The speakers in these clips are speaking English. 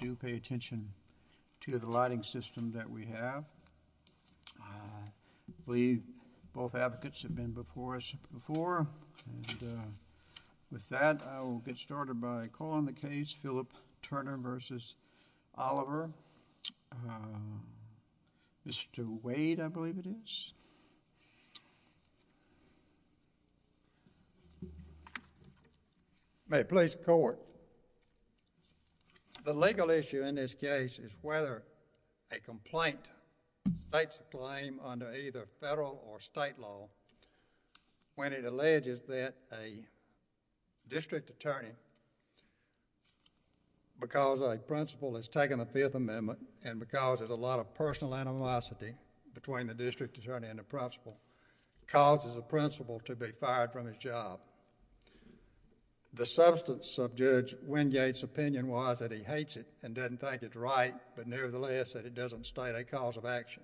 do pay attention to the lighting system that we have. I believe both advocates have been before us before. With that, I will get started by calling the case, Philip Turner v. Oliver. Mr. Wade, I believe it is. May it please the court. The legal issue in this case is whether a complaint states the claim under either federal or state law when it alleges that a district attorney, because a principal has taken the Fifth Amendment and because there is a lot of personal animosity between the district attorney and the principal, causes the principal to be fired from his job. The substance of Judge Wingate's opinion was that he hates it and doesn't think it's right, but nevertheless, that it doesn't state a cause of action.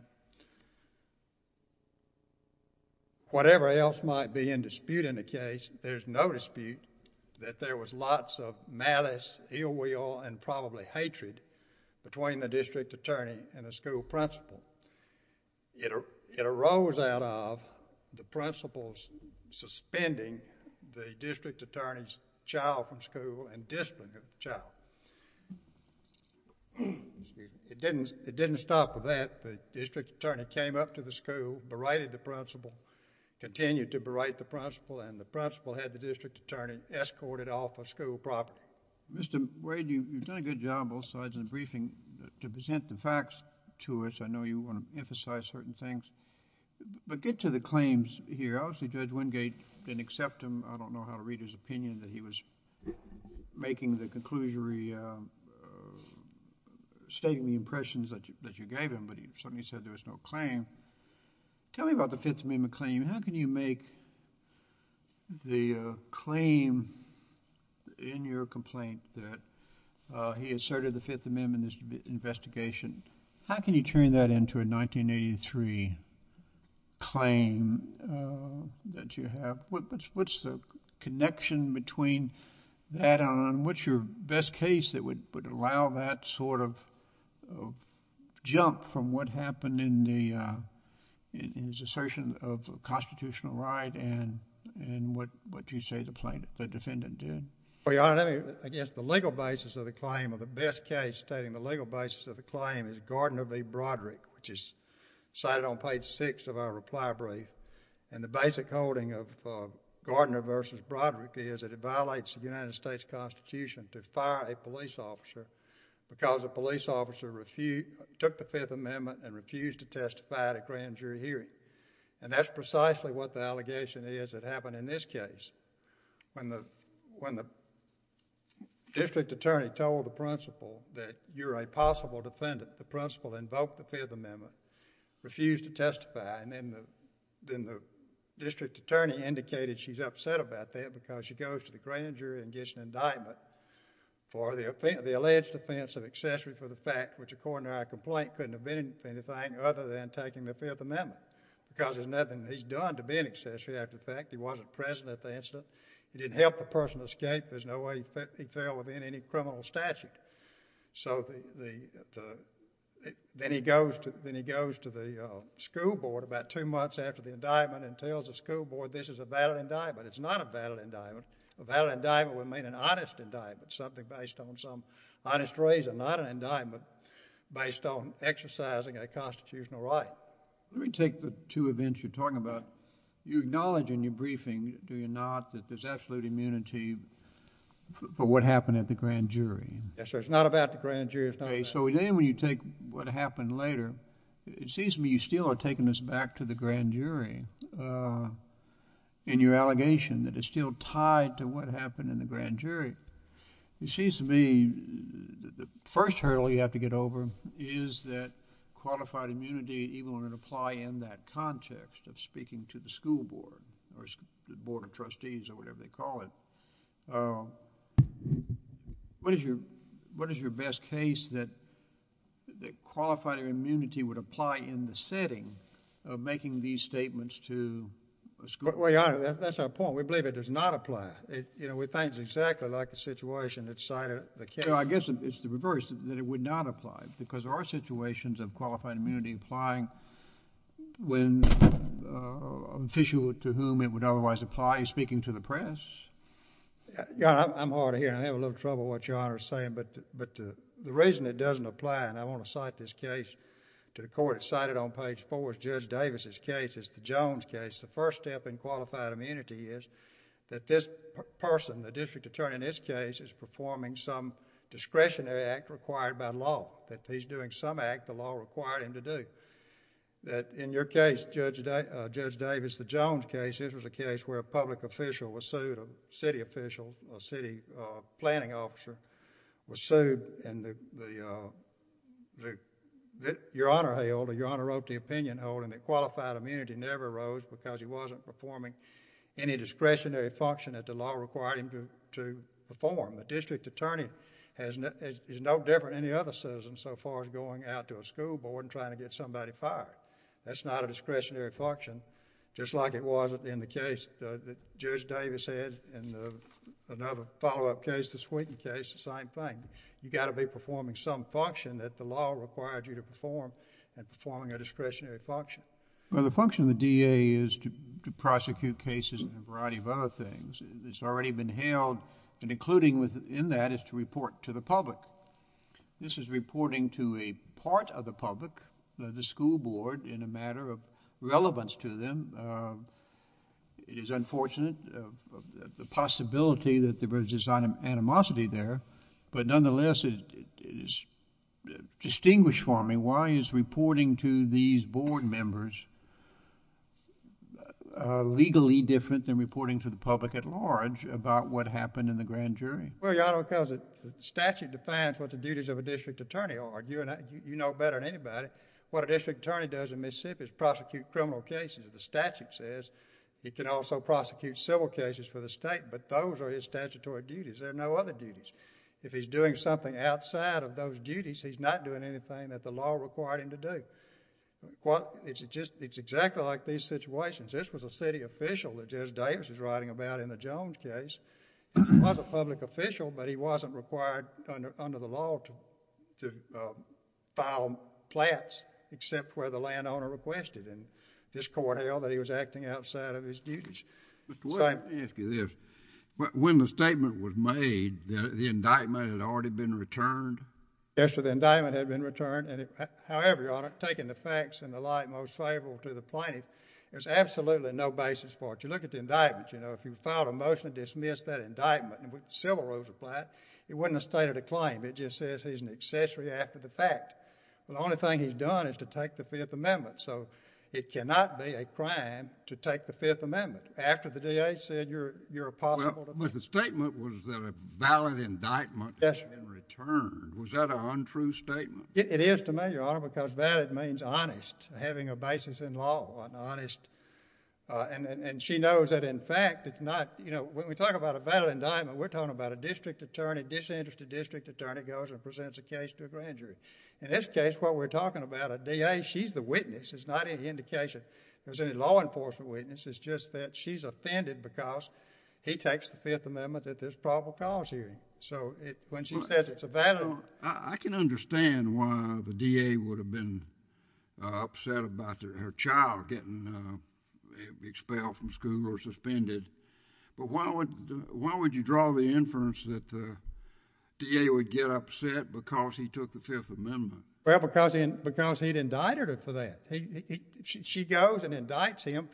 Whatever else might be in dispute in the case, there's no dispute that there was lots of malice, ill will, and probably hatred between the district attorney and the school principal. It arose out of the principal suspending the district attorney's child from school and disciplining the child. It didn't stop with that. The district attorney came up to the school, berated the principal, continued to berate the principal, and the principal had the district attorney escorted off of school property. Mr. Wade, you've done a good job both sides in the briefing. To present the facts to us, I know you want to emphasize certain things, but get to the claims here. Obviously, Judge Wingate didn't accept them. I don't know how to read his opinion that he was making the conclusionary, stating the impressions that you gave him, but he certainly said there was no claim. Tell me about the Fifth Amendment claim. How can you make the claim in your complaint that he asserted the Fifth Amendment in this investigation? How can you turn that into a 1983 claim that you have? What's the connection between that and what's your best case that would allow that sort of jump from what happened in his assertion of constitutional right and what you say the defendant did? Your Honor, against the legal basis of the claim, the best case stating the legal basis of the claim is Gardner v. Broderick, which is cited on page 6 of our reply brief. The basic holding of Gardner v. Broderick is that it violates the United States Constitution to fire a police officer because a police officer took the Fifth Amendment and refused to testify at a grand jury hearing. That's precisely what the allegation is that happened in this case. When the district attorney told the principal that you're a possible defendant, the principal invoked the Fifth Amendment, refused to testify, and then the district attorney indicated she's upset about that because she goes to the grand jury and gets an indictment for the alleged offense of accessory for the fact which, according to our complaint, couldn't have been anything other than taking the Fifth Amendment because there's nothing he's done to be an accessory after the fact. He wasn't present at the incident. He didn't help the person escape. There's no way he fell within any criminal statute. So then he goes to the school board about two months after the indictment and tells the school board this is a valid indictment. It's not a valid indictment. A valid indictment would mean an honest indictment, something based on some honest reason, not an indictment based on exercising a constitutional right. Let me take the two events you're talking about. You acknowledge in your briefing, do you not, that there's absolute immunity for what happened at the grand jury? Yes, sir. It's not about the grand jury. Okay, so then when you take what happened later, it seems to me you still are taking this back to the grand jury in your allegation that it's still tied to what happened in the grand jury. It seems to me the first hurdle you have to get over is that qualified immunity, even when it would apply in that context of speaking to the school board or the board of trustees or whatever they call it, what is your best case that qualified immunity would apply in the setting of making these statements to a school board? Well, Your Honor, that's our point. We believe it does not apply. We think it's exactly like the situation that cited the case. I guess it's the reverse, that it would not apply because our situations of qualified immunity apply when an official to whom it would otherwise apply is speaking to the press. Your Honor, I'm hard of hearing. I have a little trouble with what Your Honor is saying, but the reason it doesn't apply, and I want to cite this case to the court. It's cited on page 4. It's Judge Davis' case. It's the Jones case. The first step in qualified immunity is that this person, the district attorney in this case, is performing some discretionary act required by law, that he's doing some act the law required him to do. In your case, Judge Davis, the Jones case, this was a case where a public official was sued, a city official, a city planning officer was sued, and Your Honor wrote the opinion holding that qualified immunity never arose because he wasn't performing any discretionary function that the law required him to perform. The district attorney is no different than any other citizen so far as going out to a school board and trying to get somebody fired. That's not a discretionary function, just like it wasn't in the case that Judge Davis had in another follow-up case, the Swinton case, the same thing. You've got to be performing some function that the law required you to perform and performing a discretionary function. Well, the function of the DA is to prosecute cases and a variety of other things. It's already been held, and including in that is to report to the public. This is reporting to a part of the public, the school board, in a matter of relevance to them. It is unfortunate the possibility that there was this animosity there, but nonetheless it is distinguished for me. Why is reporting to these board members legally different than reporting to the public at large about what happened in the grand jury? Well, Your Honor, because the statute defines what the duties of a district attorney are. You know better than anybody what a district attorney does in Mississippi is prosecute criminal cases. The statute says he can also prosecute civil cases for the state, but those are his statutory duties. There are no other duties. If he's doing something outside of those duties, he's not doing anything that the law required him to do. It's exactly like these situations. This was a city official that Judge Davis was writing about in the Jones case. He was a public official, but he wasn't required under the law to file plats except where the landowner requested. This court held that he was acting outside of his duties. Mr. Wood, let me ask you this. When the statement was made, the indictment had already been returned? Yes, the indictment had been returned. However, Your Honor, taking the facts in the light most favorable to the plaintiff, there's absolutely no basis for it. You look at the indictment. If you file a motion to dismiss that indictment with civil rules applied, it wouldn't have stated a claim. It just says he's an accessory after the fact. The only thing he's done is to take the Fifth Amendment, so it cannot be a crime to take the Fifth Amendment after the DA said you're a possible defendant. But the statement was that a valid indictment has been returned. Was that an untrue statement? It is to me, Your Honor, because valid means honest, having a basis in law, an honest... And she knows that, in fact, it's not... When we talk about a valid indictment, we're talking about a district attorney, disinterested district attorney, goes and presents a case to a grand jury. In this case, what we're talking about, a DA, she's the witness. It's not any indication there's any law enforcement witness. It's just that she's offended because he takes the Fifth Amendment at this probable cause hearing. So when she says it's a valid... I can understand why the DA would have been upset about her child getting expelled from school or suspended, but why would you draw the inference that the DA would get upset because he took the Fifth Amendment? Well, because he'd indicted her for that. She goes and indicts him,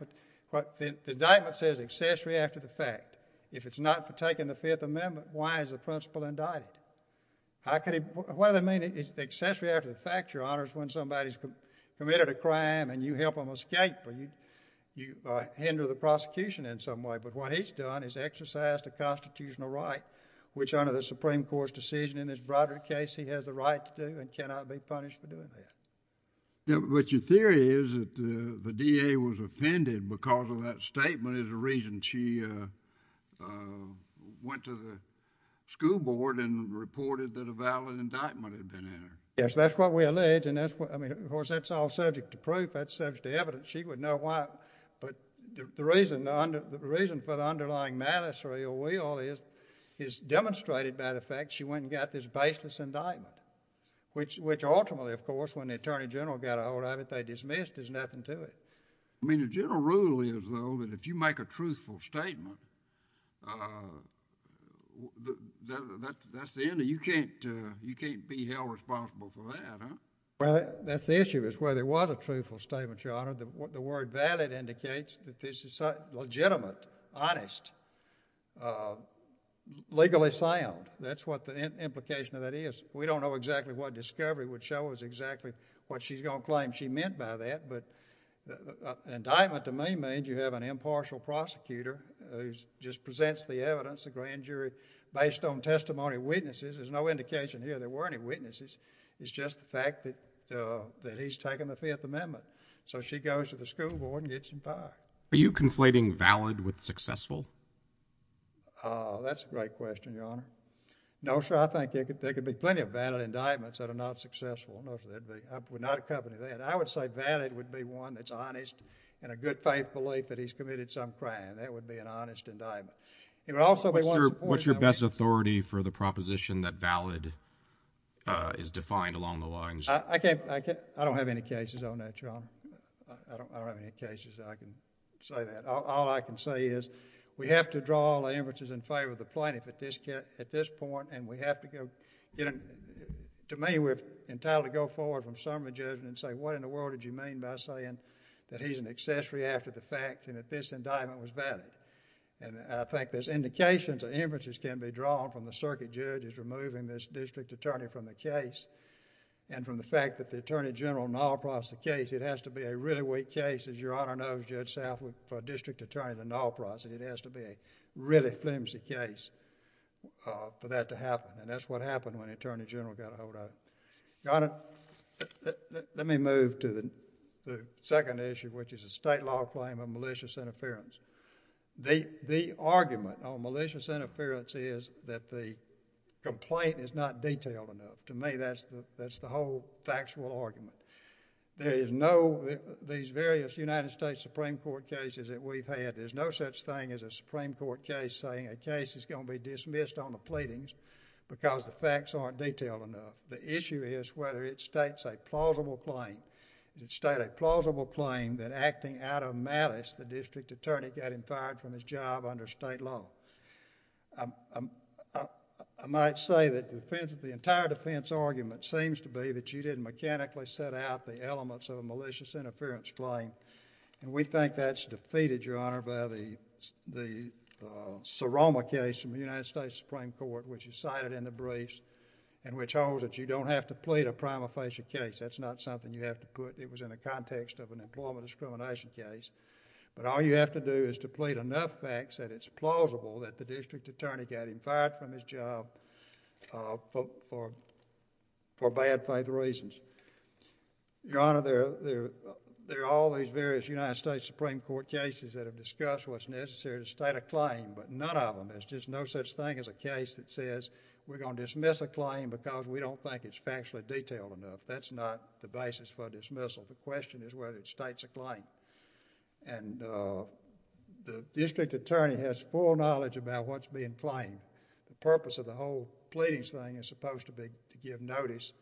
but the indictment says accessory after the fact. If it's not for taking the Fifth Amendment, why is the principal indicted? What does it mean, is it accessory after the fact, Your Honor, when somebody's committed a crime and you help them escape or you hinder the prosecution in some way? But what he's done is exercised a constitutional right which under the Supreme Court's decision in this broader case, he has the right to do and cannot be punished for doing that. But your theory is that the DA was offended because of that statement is the reason she went to the school board and reported that a valid indictment had been entered. Yes, that's what we allege. Of course, that's all subject to proof. That's subject to evidence. She would know why, but the reason for the underlying malice or ill will is demonstrated by the fact she went and got this baseless indictment, which ultimately, of course, when the Attorney General got a hold of it, they dismissed as nothing to it. I mean, the general rule is, though, that if you make a truthful statement, that's the end of it. You can't be held responsible for that, huh? Well, that's the issue, is whether it was a truthful statement, Your Honor. The word valid indicates that this is legitimate, honest, legally sound. That's what the implication of that is. We don't know exactly what discovery would show us exactly what she's going to claim she meant by that, but indictment to me means you have an impartial prosecutor who just presents the evidence, the grand jury, based on testimony of witnesses. There's no indication here there were any witnesses. It's just the fact that he's taken the Fifth Amendment. So she goes to the school board and gets in power. Are you conflating valid with successful? That's a great question, Your Honor. No, sir. I think there could be plenty of valid indictments that are not successful. No, sir. I would not accompany that. I would say valid would be one that's honest and a good faith belief that he's committed some crime. That would be an honest indictment. What's your best authority for the proposition that valid is defined along the lines? I don't have any cases on that, Your Honor. I don't have any cases I can say that. All I can say is we have to draw all inferences in favor of the plaintiff at this point, and we have to go get an... To me, we're entitled to go forward from summary judgment and say, what in the world did you mean by saying that he's an accessory after the fact and that this indictment was valid? And I think there's indications that inferences can be drawn from the circuit judge's removing this district attorney from the case and from the fact that the Attorney General null-processed the case. It has to be a really weak case. As Your Honor knows, Judge Southwood, for a district attorney to null-process it, it has to be a really flimsy case for that to happen, and that's what happened when the Attorney General got a hold of it. Your Honor, let me move to the second issue, which is the state law claim of malicious interference. The argument on malicious interference is that the complaint is not detailed enough. To me, that's the whole factual argument. There is no... These various United States Supreme Court cases that we've had, there's no such thing as a Supreme Court case saying a case is going to be dismissed on the pleadings because the facts aren't detailed enough. The issue is whether it states a plausible claim. Does it state a plausible claim that acting out of malice, the district attorney got him fired from his job under state law? I might say that the entire defense argument seems to be that you didn't mechanically set out the elements of a malicious interference claim, and we think that's defeated, Your Honor, by the Saroma case from the United States Supreme Court, which is cited in the briefs, and which holds that you don't have to plead a prima facie case. That's not something you have to put... in an employment discrimination case. But all you have to do is to plead enough facts that it's plausible that the district attorney got him fired from his job for bad faith reasons. Your Honor, there are all these various United States Supreme Court cases that have discussed what's necessary to state a claim, but none of them, there's just no such thing as a case that says we're going to dismiss a claim because we don't think it's factually detailed enough. That's not the basis for dismissal. The question is whether it states a claim. And the district attorney has full knowledge about what's being claimed. The purpose of the whole pleadings thing is supposed to be to give notice,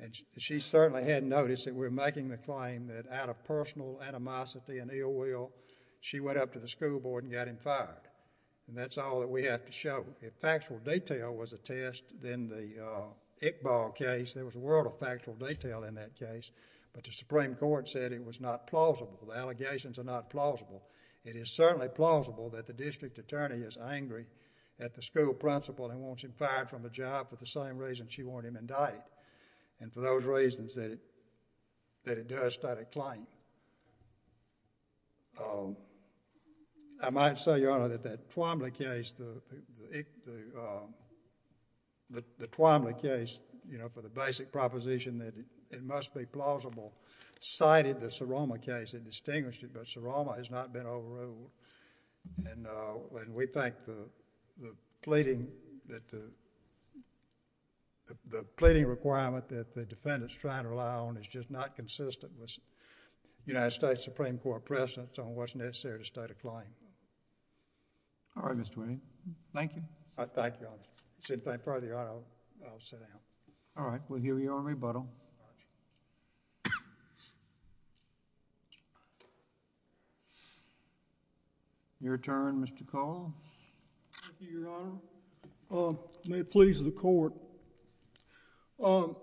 and she certainly had noticed that we were making the claim that out of personal animosity and ill will, she went up to the school board and got him fired. And that's all that we have to show. If factual detail was a test, then the Iqbal case, there was a world of factual detail in that case, but the Supreme Court said it was not plausible. The allegations are not plausible. It is certainly plausible that the district attorney is angry at the school principal and wants him fired from the job for the same reason she warned him and died, and for those reasons that it does state a claim. I might say, Your Honor, that the Twomley case, you know, for the basic proposition that it must be plausible, cited the Seroma case and distinguished it, but Seroma has not been overruled. And we think the pleading requirement that the defendant's trying to rely on is just not consistent with United States Supreme Court precedence on what's necessary to state a claim. All right, Mr. Twomley. Thank you. I thank you, Your Honor. If there's anything further, Your Honor, I'll sit down. All right, we'll hear your rebuttal. Your turn, Mr. Call. Thank you, Your Honor. May it please the Court. I'm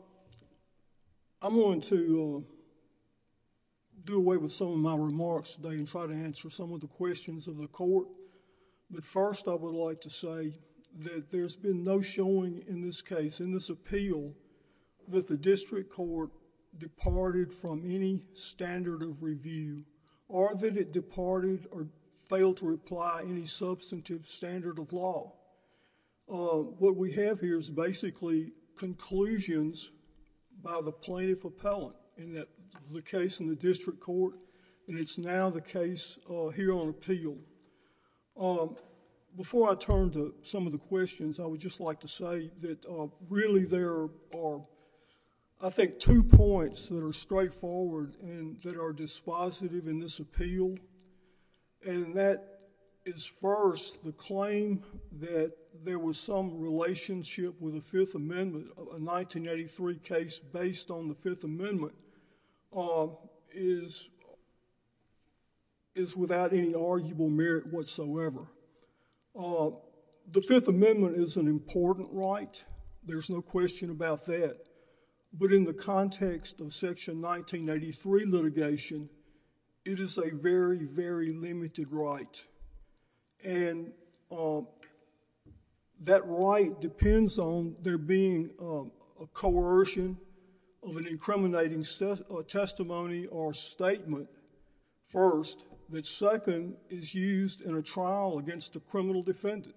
going to do away with some of my remarks today and try to answer some of the questions of the Court, but first I would like to say that there's been no showing in this case, in this appeal, that the district court departed from any standard of review or that it departed or failed to apply any substantive standard of law. What we have here is basically conclusions by the plaintiff appellant in the case in the district court, and it's now the case here on appeal. Before I turn to some of the questions, I would just like to say that really there are, I think, two points that are straightforward and that are dispositive in this appeal, and that is first, the claim that there was some relationship with the Fifth Amendment, a 1983 case based on the Fifth Amendment, is without any arguable merit whatsoever. The Fifth Amendment is an important right. There's no question about that, but in the context of Section 1983 litigation, it is a very, very limited right, and that right depends on there being a coercion of an incriminating testimony or statement, first, that second is used in a trial against a criminal defendant.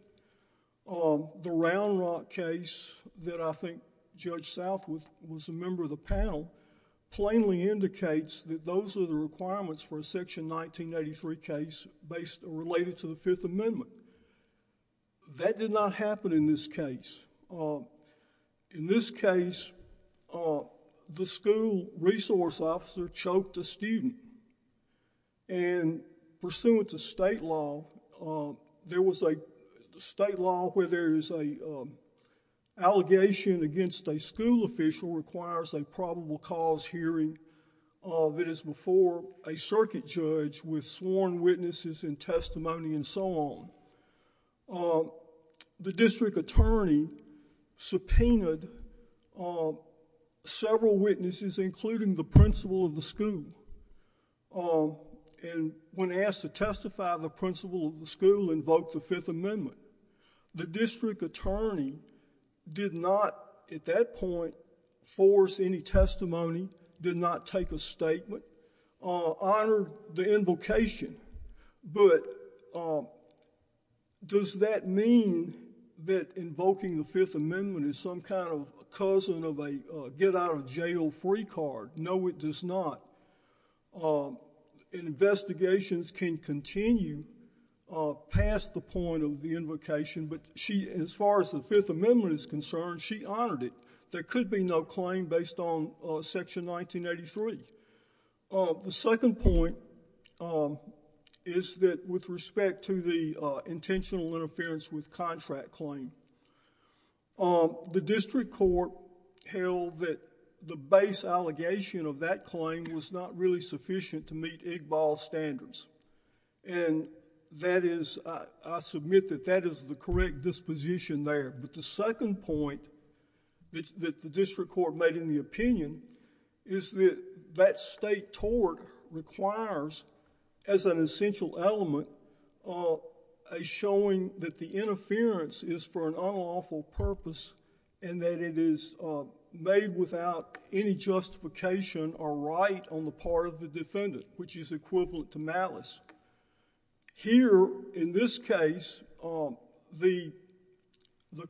The Round Rock case that I think Judge Southwood was a member of the panel plainly indicates that those are the requirements for a Section 1983 case related to the Fifth Amendment. That did not happen in this case. In this case, the school resource officer choked a student, and pursuant to state law, there was a state law where there is an allegation against a school official requires a probable cause hearing that is before a circuit judge with sworn witnesses and testimony and so on. The district attorney subpoenaed several witnesses, including the principal of the school, and when asked to testify, the principal of the school invoked the Fifth Amendment. The district attorney did not, at that point, force any testimony, did not take a statement, honored the invocation, but does that mean that invoking the Fifth Amendment is some kind of cousin of a get-out-of-jail-free card? No, it does not. Investigations can continue past the point of the invocation, but as far as the Fifth Amendment is concerned, she honored it. There could be no claim based on Section 1983. The second point is that with respect to the intentional interference with contract claim, the district court held that the base allegation of that claim was not really sufficient to meet IGBAL standards, and I submit that that is the correct disposition there. But the second point that the district court made in the opinion is that that state tort requires, as an essential element, a showing that the interference is for an unlawful purpose and that it is made without any justification or right on the part of the defendant, which is equivalent to malice. Here, in this case, the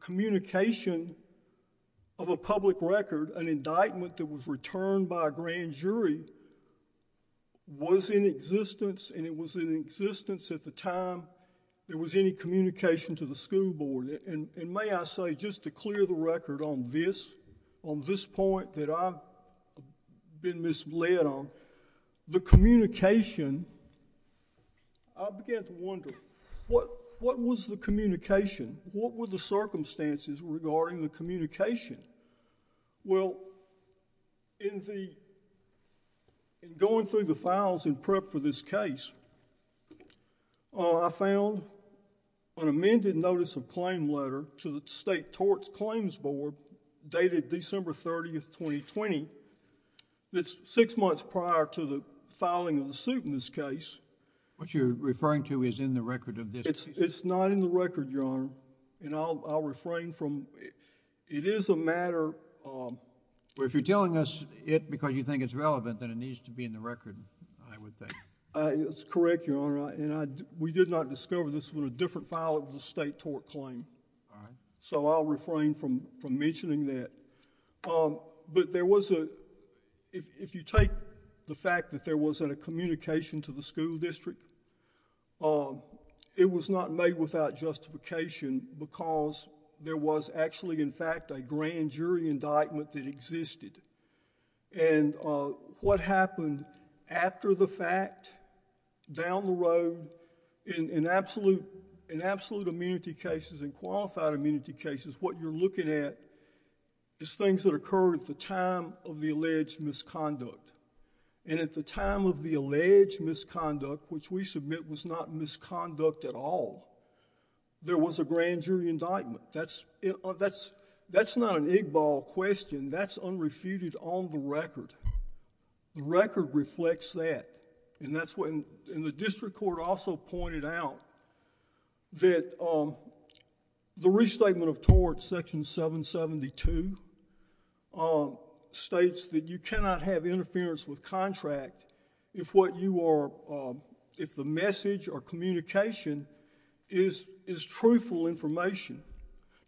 communication of a public record, an indictment that was returned by a grand jury, was in existence, and it was in existence at the time there was any communication to the school board. And may I say, just to clear the record on this point that I've been misled on, the communication, I began to wonder, what was the communication? What were the circumstances regarding the communication? Well, in the... in going through the files in prep for this case, I found an amended notice of claim letter to the State Torts Claims Board dated December 30, 2020, that's six months prior to the filing of the suit in this case. What you're referring to is in the record of this case? It's not in the record, Your Honor. And I'll refrain from... It is a matter... Well, if you're telling us it because you think it's relevant, then it needs to be in the record, I would think. That's correct, Your Honor. And we did not discover this in a different file of the State Tort Claim. All right. So I'll refrain from mentioning that. But there was a... If you take the fact that there wasn't a communication to the school district, it was not made without justification because there was actually, in fact, a grand jury indictment that existed. And what happened after the fact, down the road, in absolute immunity cases and qualified immunity cases, what you're looking at is things that occurred at the time of the alleged misconduct. And at the time of the alleged misconduct, which we submit was not misconduct at all, there was a grand jury indictment. That's not an egg-ball question. That's unrefuted on the record. The record reflects that. And the district court also pointed out that the Restatement of Tort, Section 772, states that you cannot have interference with contract if what you are... if the message or communication is truthful information.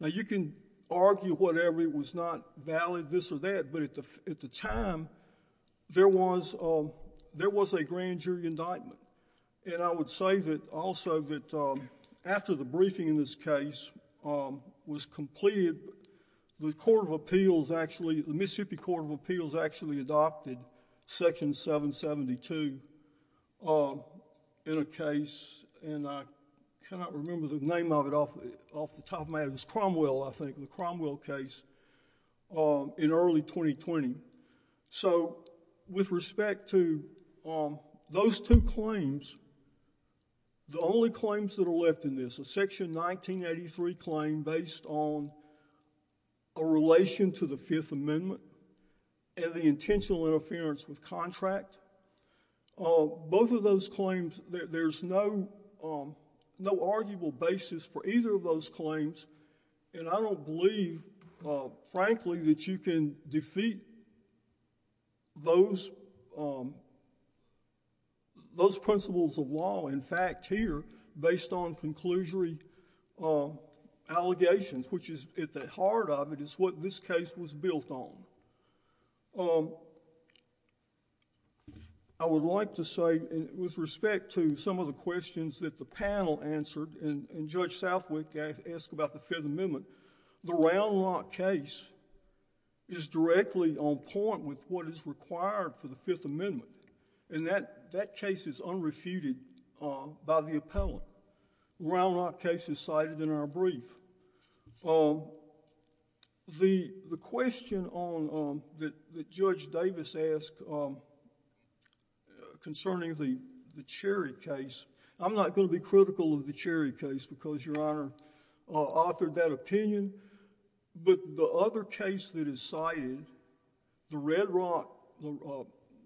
Now, you can argue whatever. It was not valid this or that. But at the time, there was a grand jury indictment. And I would say that also that after the briefing in this case was completed, the Court of Appeals actually... the Mississippi Court of Appeals actually adopted Section 772 in a case, and I cannot remember the name of it off the top of my head. It was Cromwell, I think, the Cromwell case, in early 2020. So with respect to those two claims, the only claims that are left in this, is the Section 1983 claim based on a relation to the Fifth Amendment and the intentional interference with contract. Both of those claims, there's no arguable basis for either of those claims. And I don't believe, frankly, that you can defeat those principles of law, in fact, here, based on conclusory allegations, which is at the heart of it, is what this case was built on. I would like to say, with respect to some of the questions that the panel answered, and Judge Southwick asked about the Fifth Amendment, the Round Lock case is directly on point with what is required for the Fifth Amendment. And that case is unrefuted by the appellant. The Round Lock case is cited in our brief. The question that Judge Davis asked concerning the Cherry case, I'm not going to be critical of the Cherry case because Your Honor authored that opinion, but the other case that is cited, the Red Rock,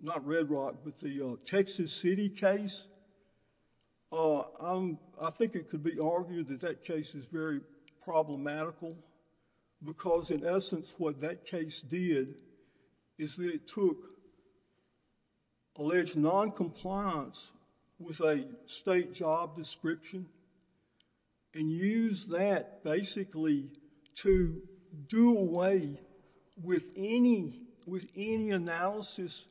not Red Rock, but the Texas City case, I think it could be argued that that case is very problematical because, in essence, what that case did is that it took alleged noncompliance with a state job description and used that, basically, to do away with any analysis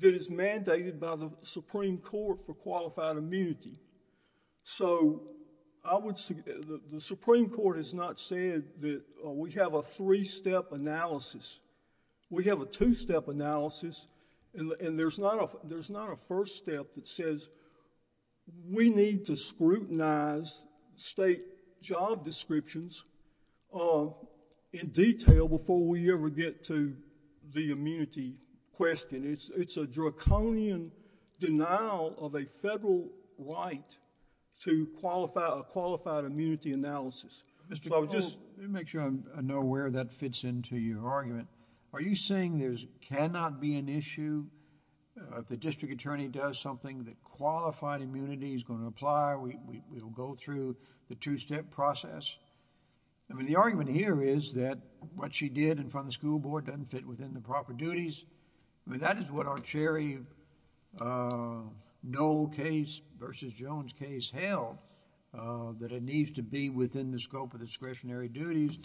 that is mandated by the Supreme Court for qualified immunity. So, the Supreme Court has not said that we have a three-step analysis. We have a two-step analysis, and there's not a first step that says we need to scrutinize state job descriptions in detail before we ever get to the immunity question. It's a draconian denial of a federal right to a qualified immunity analysis. So, I would just... Let me make sure I know where that fits into your argument. Are you saying there cannot be an issue if the district attorney does something that qualified immunity is going to apply? We will go through the two-step process? I mean, the argument here is that what she did in front of the school board doesn't fit within the proper duties. I mean, that is what our Cherry Knoll case versus Jones case held, that it needs to be within the scope of discretionary duties,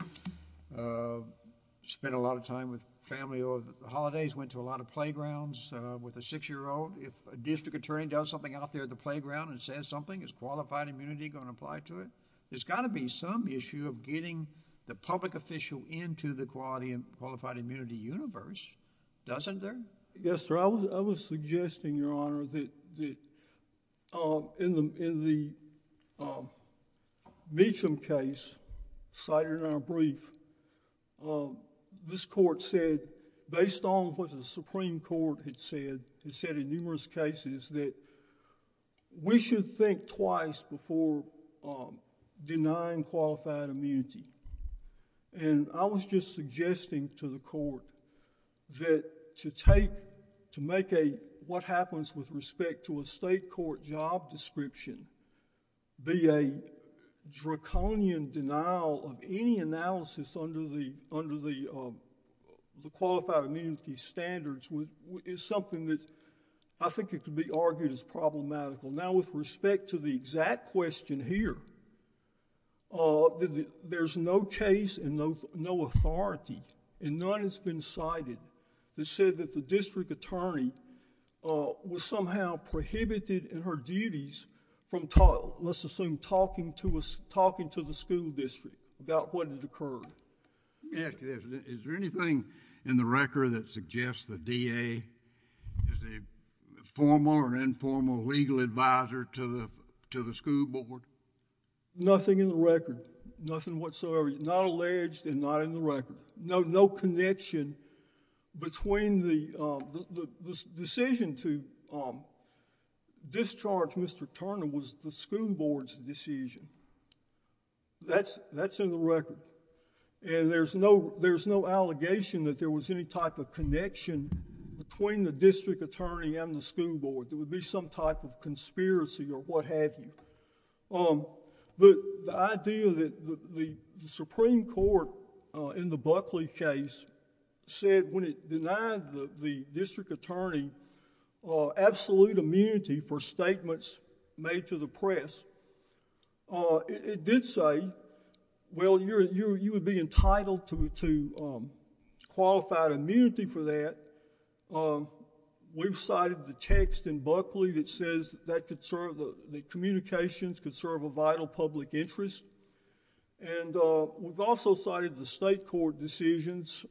spent a lot of time with family over the holidays, went to a lot of playgrounds with a six-year-old. If a district attorney does something out there at the playground and says something, is qualified immunity going to apply to it? There's got to be some issue of getting the public official into the qualified immunity universe, doesn't there? Yes, sir. I was suggesting, Your Honor, that in the Meacham case cited in our brief, this court said, based on what the Supreme Court had said, it said in numerous cases that we should think twice before denying qualified immunity. I was just suggesting to the court that to take... to make what happens with respect to a state court job description be a draconian denial of any analysis under the qualified immunity standards is something that I think could be argued as problematical. Now, with respect to the exact question here, there's no case and no authority, and none has been cited that said that the district attorney was somehow prohibited in her duties from, let's assume, talking to the school district about what had occurred. Let me ask you this. Is there anything in the record that suggests the DA is a formal or informal legal advisor to the school board? Nothing in the record. Nothing whatsoever. Not alleged and not in the record. No connection between the... The decision to discharge Mr. Turner was the school board's decision. That's in the record. There's no allegation that there was any type of connection between the district attorney and the school board. There would be some type of conspiracy or what have you. The idea that the Supreme Court in the Buckley case said when it denied the district attorney absolute immunity for statements made to the press, it did say, well, you would be entitled to qualified immunity for that. We've cited the text in Buckley that says the communications could serve a vital public interest. We've also cited the state court decisions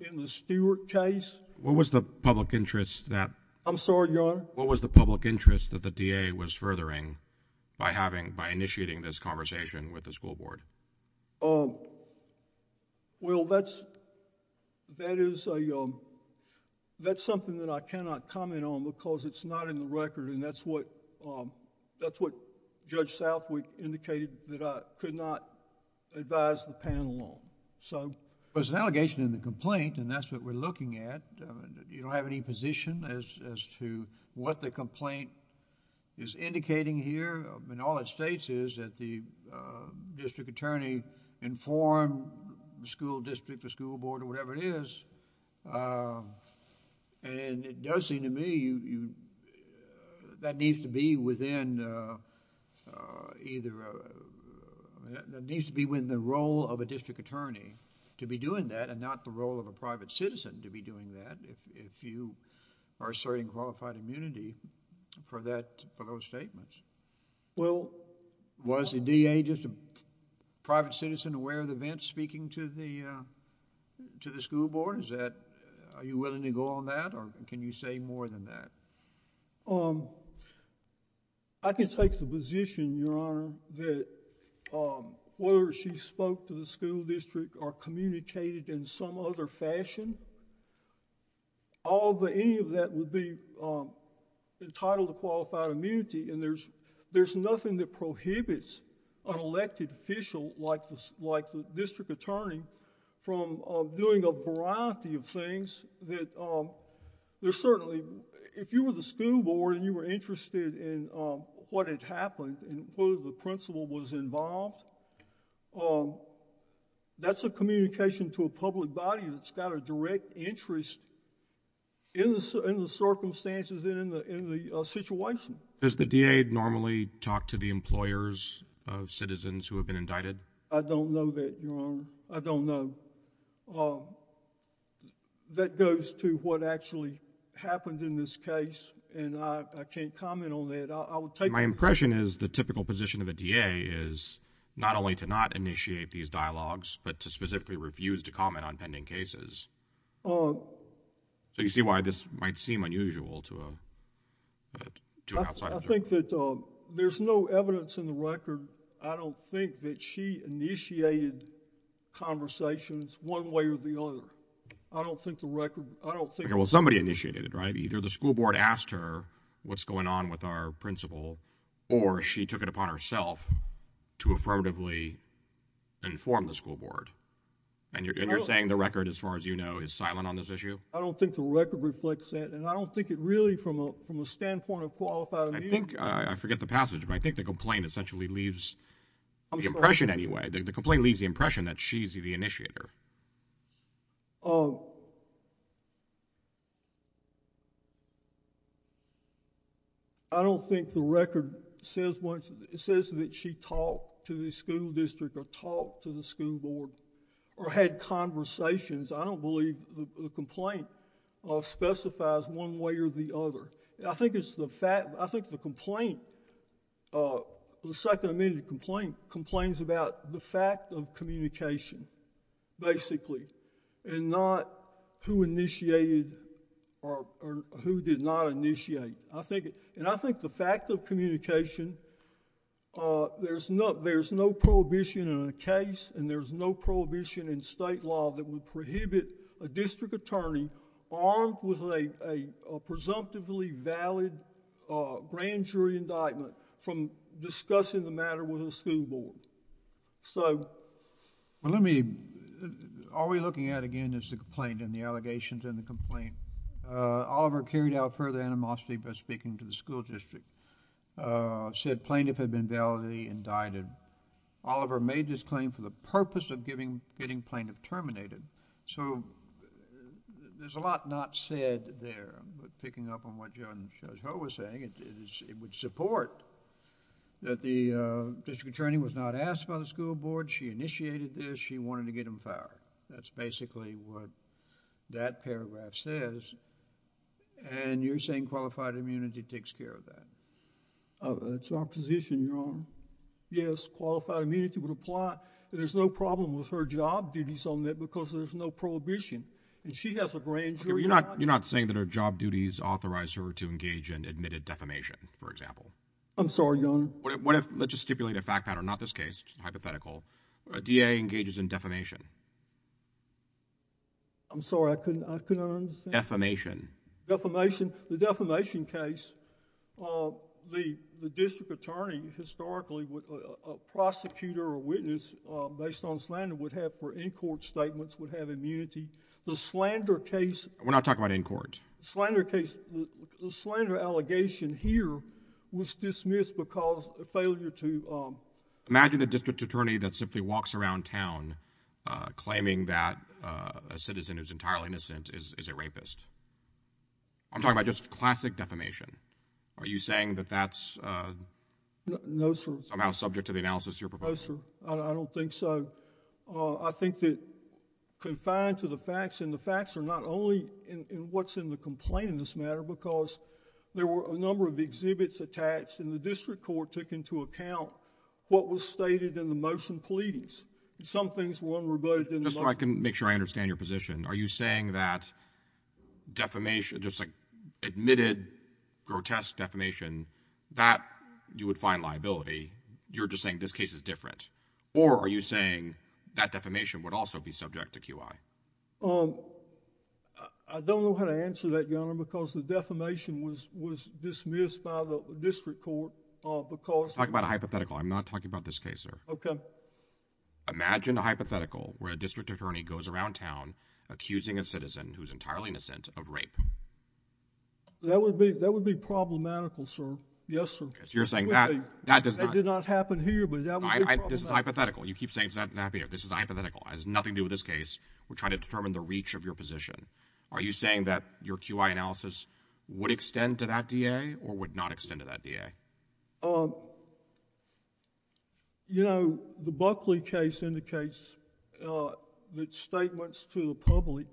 in the Stewart case. What was the public interest that... I'm sorry, Your Honor? What was the public interest that the DA was furthering by initiating this conversation with the school board? Well, that's something that I cannot comment on because it's not in the record. That's what Judge Southwick indicated that I could not advise the panel on. There's an allegation in the complaint and that's what we're looking at. You don't have any position as to what the complaint is indicating here. All it states is that the district attorney informed the school district, the school board, or whatever it is. It does seem to me that needs to be within either... that needs to be within the role of a district attorney to be doing that and not the role of a private citizen to be doing that if you are asserting qualified immunity for those statements. Well, was the DA just a private citizen aware of the events speaking to the school board? Is that... are you willing to go on that or can you say more than that? I can take the position, Your Honor, that whether she spoke to the school district or communicated in some other fashion, any of that would be entitled to qualified immunity and there's nothing that prohibits an elected official like the district attorney from doing a variety of things that there's certainly... if you were the school board and you were interested in what had happened and who the principal was involved, that's a communication to a public body that's got a direct interest in the circumstances and in the situation. Does the DA normally talk to the employers of citizens who have been indicted? I don't know that, Your Honor. I don't know. That goes to what actually happened in this case and I can't comment on that. My impression is the typical position of a DA is not only to not initiate these dialogues but to specifically refuse to comment on pending cases. So you see why this might seem unusual to an outside observer. I think that there's no evidence in the record, I don't think that she initiated conversations one way or the other. I don't think the record... Well, somebody initiated it, right? Either the school board asked her what's going on with our principal or she took it upon herself to affirmatively inform the school board and you're saying the record, as far as you know, is silent on this issue? I don't think the record reflects that and I don't think it really, from a standpoint of qualified immunity... I think, I forget the passage, but I think the complaint essentially leaves the impression anyway. The complaint leaves the impression that she's the initiator. I don't think the record says that she talked to the school district or talked to the school board or had conversations. I don't believe the complaint specifies one way or the other. I think it's the fact... I think the complaint, the second amended complaint, complains about the fact of communication basically and not who initiated or who did not initiate. I think the fact of communication, there's no prohibition in a case and there's no prohibition in state law that would prohibit a district attorney armed with a presumptively valid grand jury indictment from discussing the matter with the school board. So... Well, let me... Are we looking at again is the complaint and the allegations in the complaint? Oliver carried out further animosity by speaking to the school district, said plaintiff had been validly indicted. Oliver made this claim for the purpose of getting plaintiff terminated. So there's a lot not said there. But picking up on what Judge Ho was saying, it would support that the district attorney was not asked by the school board. She initiated this. She wanted to get him fired. That's basically what that paragraph says. And you're saying qualified immunity takes care of that? It's our position, Your Honor. Yes, qualified immunity would apply. There's no problem with her job duties on that because there's no prohibition. And she has a grand jury indictment. Okay, but you're not saying that her job duties authorize her to engage in admitted defamation, for example? I'm sorry, Your Honor. What if... Let's just stipulate a fact pattern, not this case, hypothetical. A DA engages in defamation. I'm sorry. I couldn't understand. Defamation. Defamation. The defamation case, the district attorney historically would... The slander case... We're not talking about in court. The slander case... The slander allegation here was dismissed because of failure to... Imagine a district attorney that simply walks around town claiming that a citizen who's entirely innocent is a rapist. I'm talking about just classic defamation. Are you saying that that's... No, sir.... somehow subject to the analysis you're proposing? No, sir. I don't think so. I think that confined to the facts, and the facts are not only in what's in the complaint in this matter because there were a number of exhibits attached and the district court took into account what was stated in the motion pleadings. Some things weren't rebutted in the motion. Just so I can make sure I understand your position, are you saying that defamation... just like admitted grotesque defamation, that you would find liability? You're just saying this case is different? Or are you saying that defamation would also be subject to QI? I don't know how to answer that, Your Honor, because the defamation was dismissed by the district court because... I'm talking about a hypothetical. I'm not talking about this case, sir. Okay. Imagine a hypothetical where a district attorney goes around town accusing a citizen who's entirely innocent of rape. That would be problematical, sir. Yes, sir. You're saying that does not... This is a hypothetical. You keep saying it's not a hypothetical. This is a hypothetical. It has nothing to do with this case. We're trying to determine the reach of your position. Are you saying that your QI analysis would extend to that DA or would not extend to that DA? The Buckley case indicates that statements to the public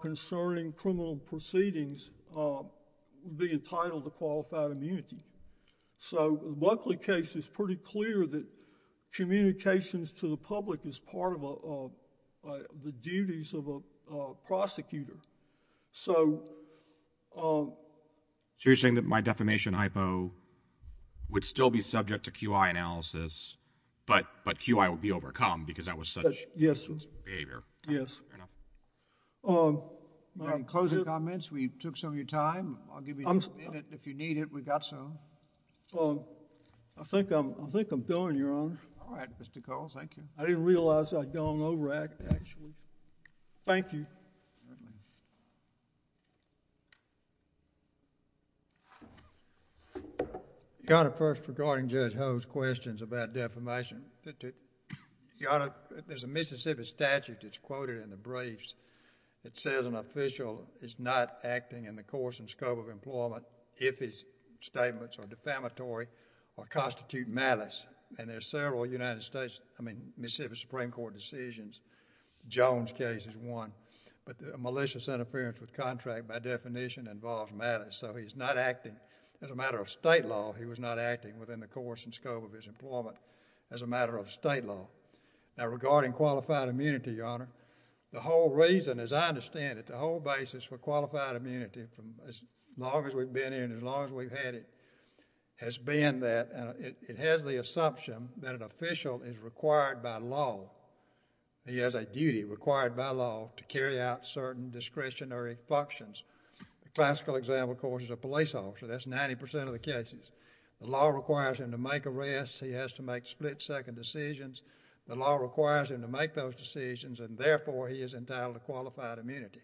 concerning criminal proceedings would be entitled to qualified immunity. The Buckley case is pretty clear that communications to the public is part of the duties of a prosecutor. So... So you're saying that my defamation hypo would still be subject to QI analysis, but QI would be overcome because that was such... Yes, sir.... behavior? Yes. Fair enough. In closing comments, we took some of your time. I'll give you... If you need it, we've got some. Well, I think I'm done, Your Honor. All right, Mr. Cole. Thank you. I didn't realize I'd gone overact, actually. Thank you. Your Honor, first, regarding Judge Ho's questions about defamation, Your Honor, there's a Mississippi statute that's quoted in the briefs that says an official is not acting in the course and scope of employment if his statements are defamatory or constitute malice, and there's several United States... I mean, Mississippi Supreme Court decisions, Jones case is one, but malicious interference with contract by definition involves malice, so he's not acting as a matter of state law. He was not acting within the course and scope of his employment Now, regarding qualified immunity, Your Honor, the whole reason, as I understand it, the whole basis for qualified immunity as long as we've been here and as long as we've had it, has been that it has the assumption that an official is required by law. He has a duty required by law to carry out certain discretionary functions. The classical example, of course, is a police officer. That's 90% of the cases. The law requires him to make arrests. He has to make split-second decisions. The law requires him to make those decisions, and therefore, he is entitled to qualified immunity.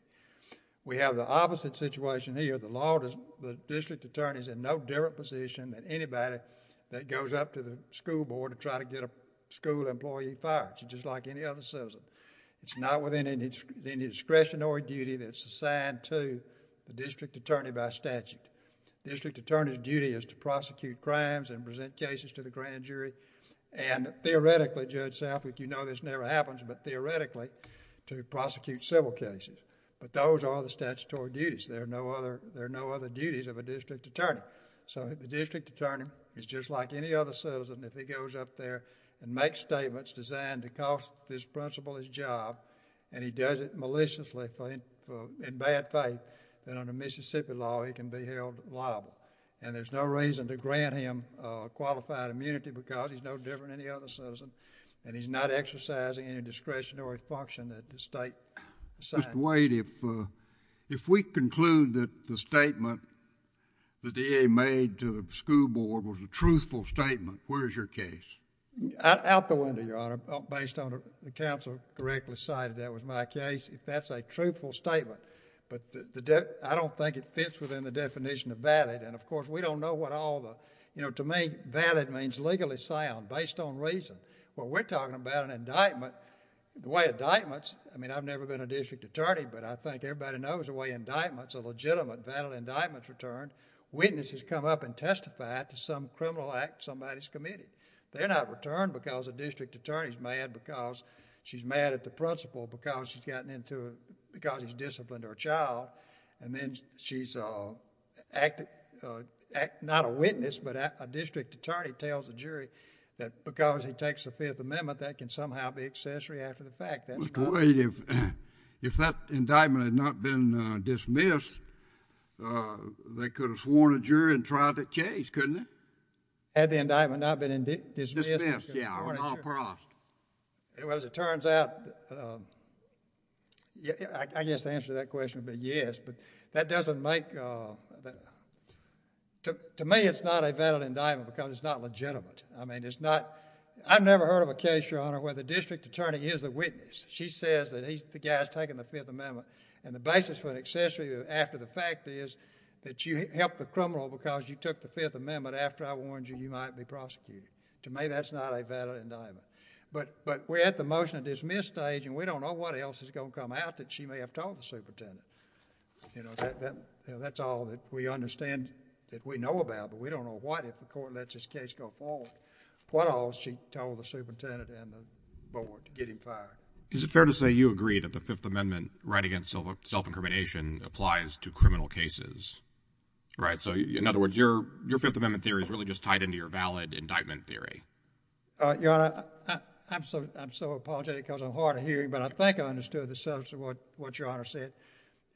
We have the opposite situation here. The district attorney is in no different position than anybody that goes up to the school board to try to get a school employee fired, just like any other citizen. It's not within any discretionary duty that's assigned to the district attorney by statute. The district attorney's duty is to prosecute crimes and present cases to the grand jury, and theoretically, Judge Southwick, you know this never happens, but theoretically, to prosecute civil cases. Those are the statutory duties. There are no other duties of a district attorney. The district attorney is just like any other citizen. If he goes up there and makes statements designed to cost this principal his job, and he does it maliciously in bad faith, then under Mississippi law, he can be held liable. There's no reason to grant him qualified immunity because he's no different than any other citizen, and he's not exercising any discretionary function that the state assigns. Mr. Wade, if we conclude that the statement the DA made to the school board was a truthful statement, where is your case? Out the window, Your Honor. Based on the counsel correctly cited, that was my case. If that's a truthful statement, but I don't think it fits within the definition of valid, and of course, we don't know what all the, you know, to me, but we're talking about an indictment. The way indictments, I mean, I've never been a district attorney, but I think everybody knows the way indictments, a legitimate valid indictment's returned. Witnesses come up and testify to some criminal act in somebody's committee. They're not returned because a district attorney's mad because she's mad at the principal because he's disciplined her child, and then she's not a witness, but a district attorney tells a jury that because he takes the Fifth Amendment, that can somehow be accessory after the fact. Mr. Wade, if that indictment had not been dismissed, they could have sworn a jury and tried the case, couldn't they? Had the indictment not been dismissed... Dismissed, yeah, or not passed. Well, as it turns out, I guess the answer to that question would be yes, but that doesn't make... To me, it's not a valid indictment because it's not legitimate. I mean, it's not... I've never heard of a case, Your Honor, where the district attorney is the witness. She says that the guy's taken the Fifth Amendment, and the basis for an accessory after the fact is that you helped the criminal because you took the Fifth Amendment after I warned you you might be prosecuted. To me, that's not a valid indictment. But we're at the motion to dismiss stage, and we don't know what else is going to come out that she may have told the superintendent. You know, that's all that we understand that we know about, but we don't know what, if the court lets this case go forward, what all she told the superintendent and the board to get him fired. Is it fair to say you agree that the Fifth Amendment, right against self-incrimination, applies to criminal cases? Right, so in other words, your Fifth Amendment theory is really just tied into your valid indictment theory. Your Honor, I'm so apologetic because I'm hard of hearing, but I think I understood the substance of what Your Honor said.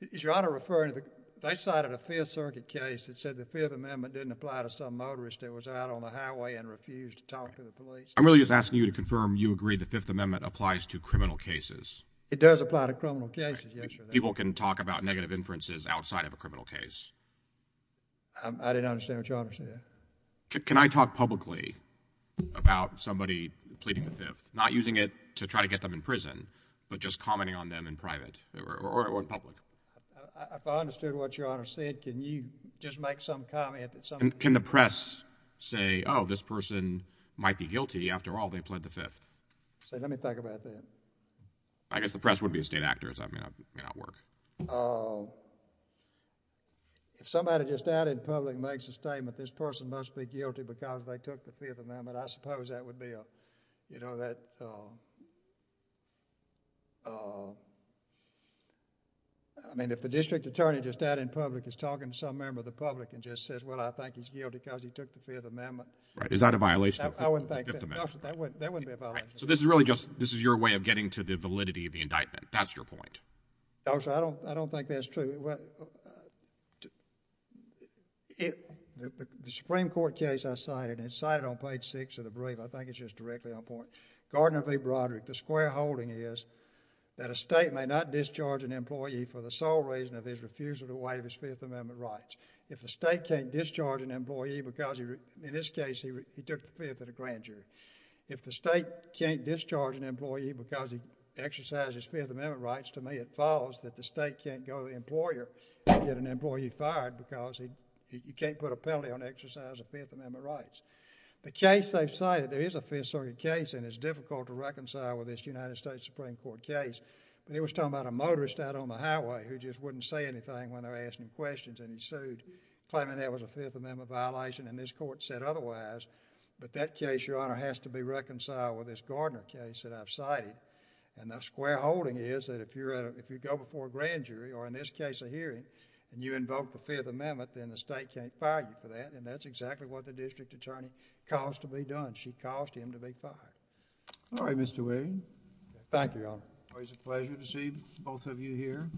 Is Your Honor referring to... they cited a Fifth Circuit case that said the Fifth Amendment didn't apply to some motorist that was out on the highway and refused to talk to the police? I'm really just asking you to confirm you agree the Fifth Amendment applies to criminal cases. It does apply to criminal cases, yes, Your Honor. People can talk about negative inferences outside of a criminal case. I didn't understand what Your Honor said. Can I talk publicly about somebody pleading the Fifth, not using it to try to get them in prison, but just commenting on them in private or in public? If I understood what Your Honor said, can you just make some comment that some... Can the press say, oh, this person might be guilty? After all, they pled the Fifth. Say, let me think about that. I guess the press would be a state actor, so that may not work. If somebody just out in public makes a statement, this person must be guilty because they took the Fifth Amendment, I suppose that would be a... you know, that... I mean, if the district attorney just out in public is talking to some member of the public and just says, well, I think he's guilty because he took the Fifth Amendment... Is that a violation of the Fifth Amendment? That wouldn't be a violation. So this is really just... this is your way of getting to the validity of the indictment. That's your point? No, sir, I don't think that's true. The Supreme Court case I cited, it's cited on page 6 of the brief. I think it's just directly on point. Gardner v. Broderick. The square holding is that a state may not discharge an employee for the sole reason of his refusal to waive his Fifth Amendment rights. If a state can't discharge an employee because he... In this case, he took the Fifth in a grand jury. If the state can't discharge an employee because he exercised his Fifth Amendment rights to me it follows that the state can't go to the employer and get an employee fired because he can't put a penalty on exercise of Fifth Amendment rights. The case they've cited, there is a Fifth Circuit case and it's difficult to reconcile with this United States Supreme Court case. But he was talking about a motorist out on the highway who just wouldn't say anything when they were asking him questions and he sued, claiming that was a Fifth Amendment violation and this court said otherwise. But that case, Your Honor, has to be reconciled with this Gardner case that I've cited. And the square holding is that if you go before a grand jury or in this case a hearing and you invoke the Fifth Amendment then the state can't fire you for that and that's exactly what the district attorney caused to be done. She caused him to be fired. All right, Mr. Williams. Thank you, Your Honor. Always a pleasure to see both of you here.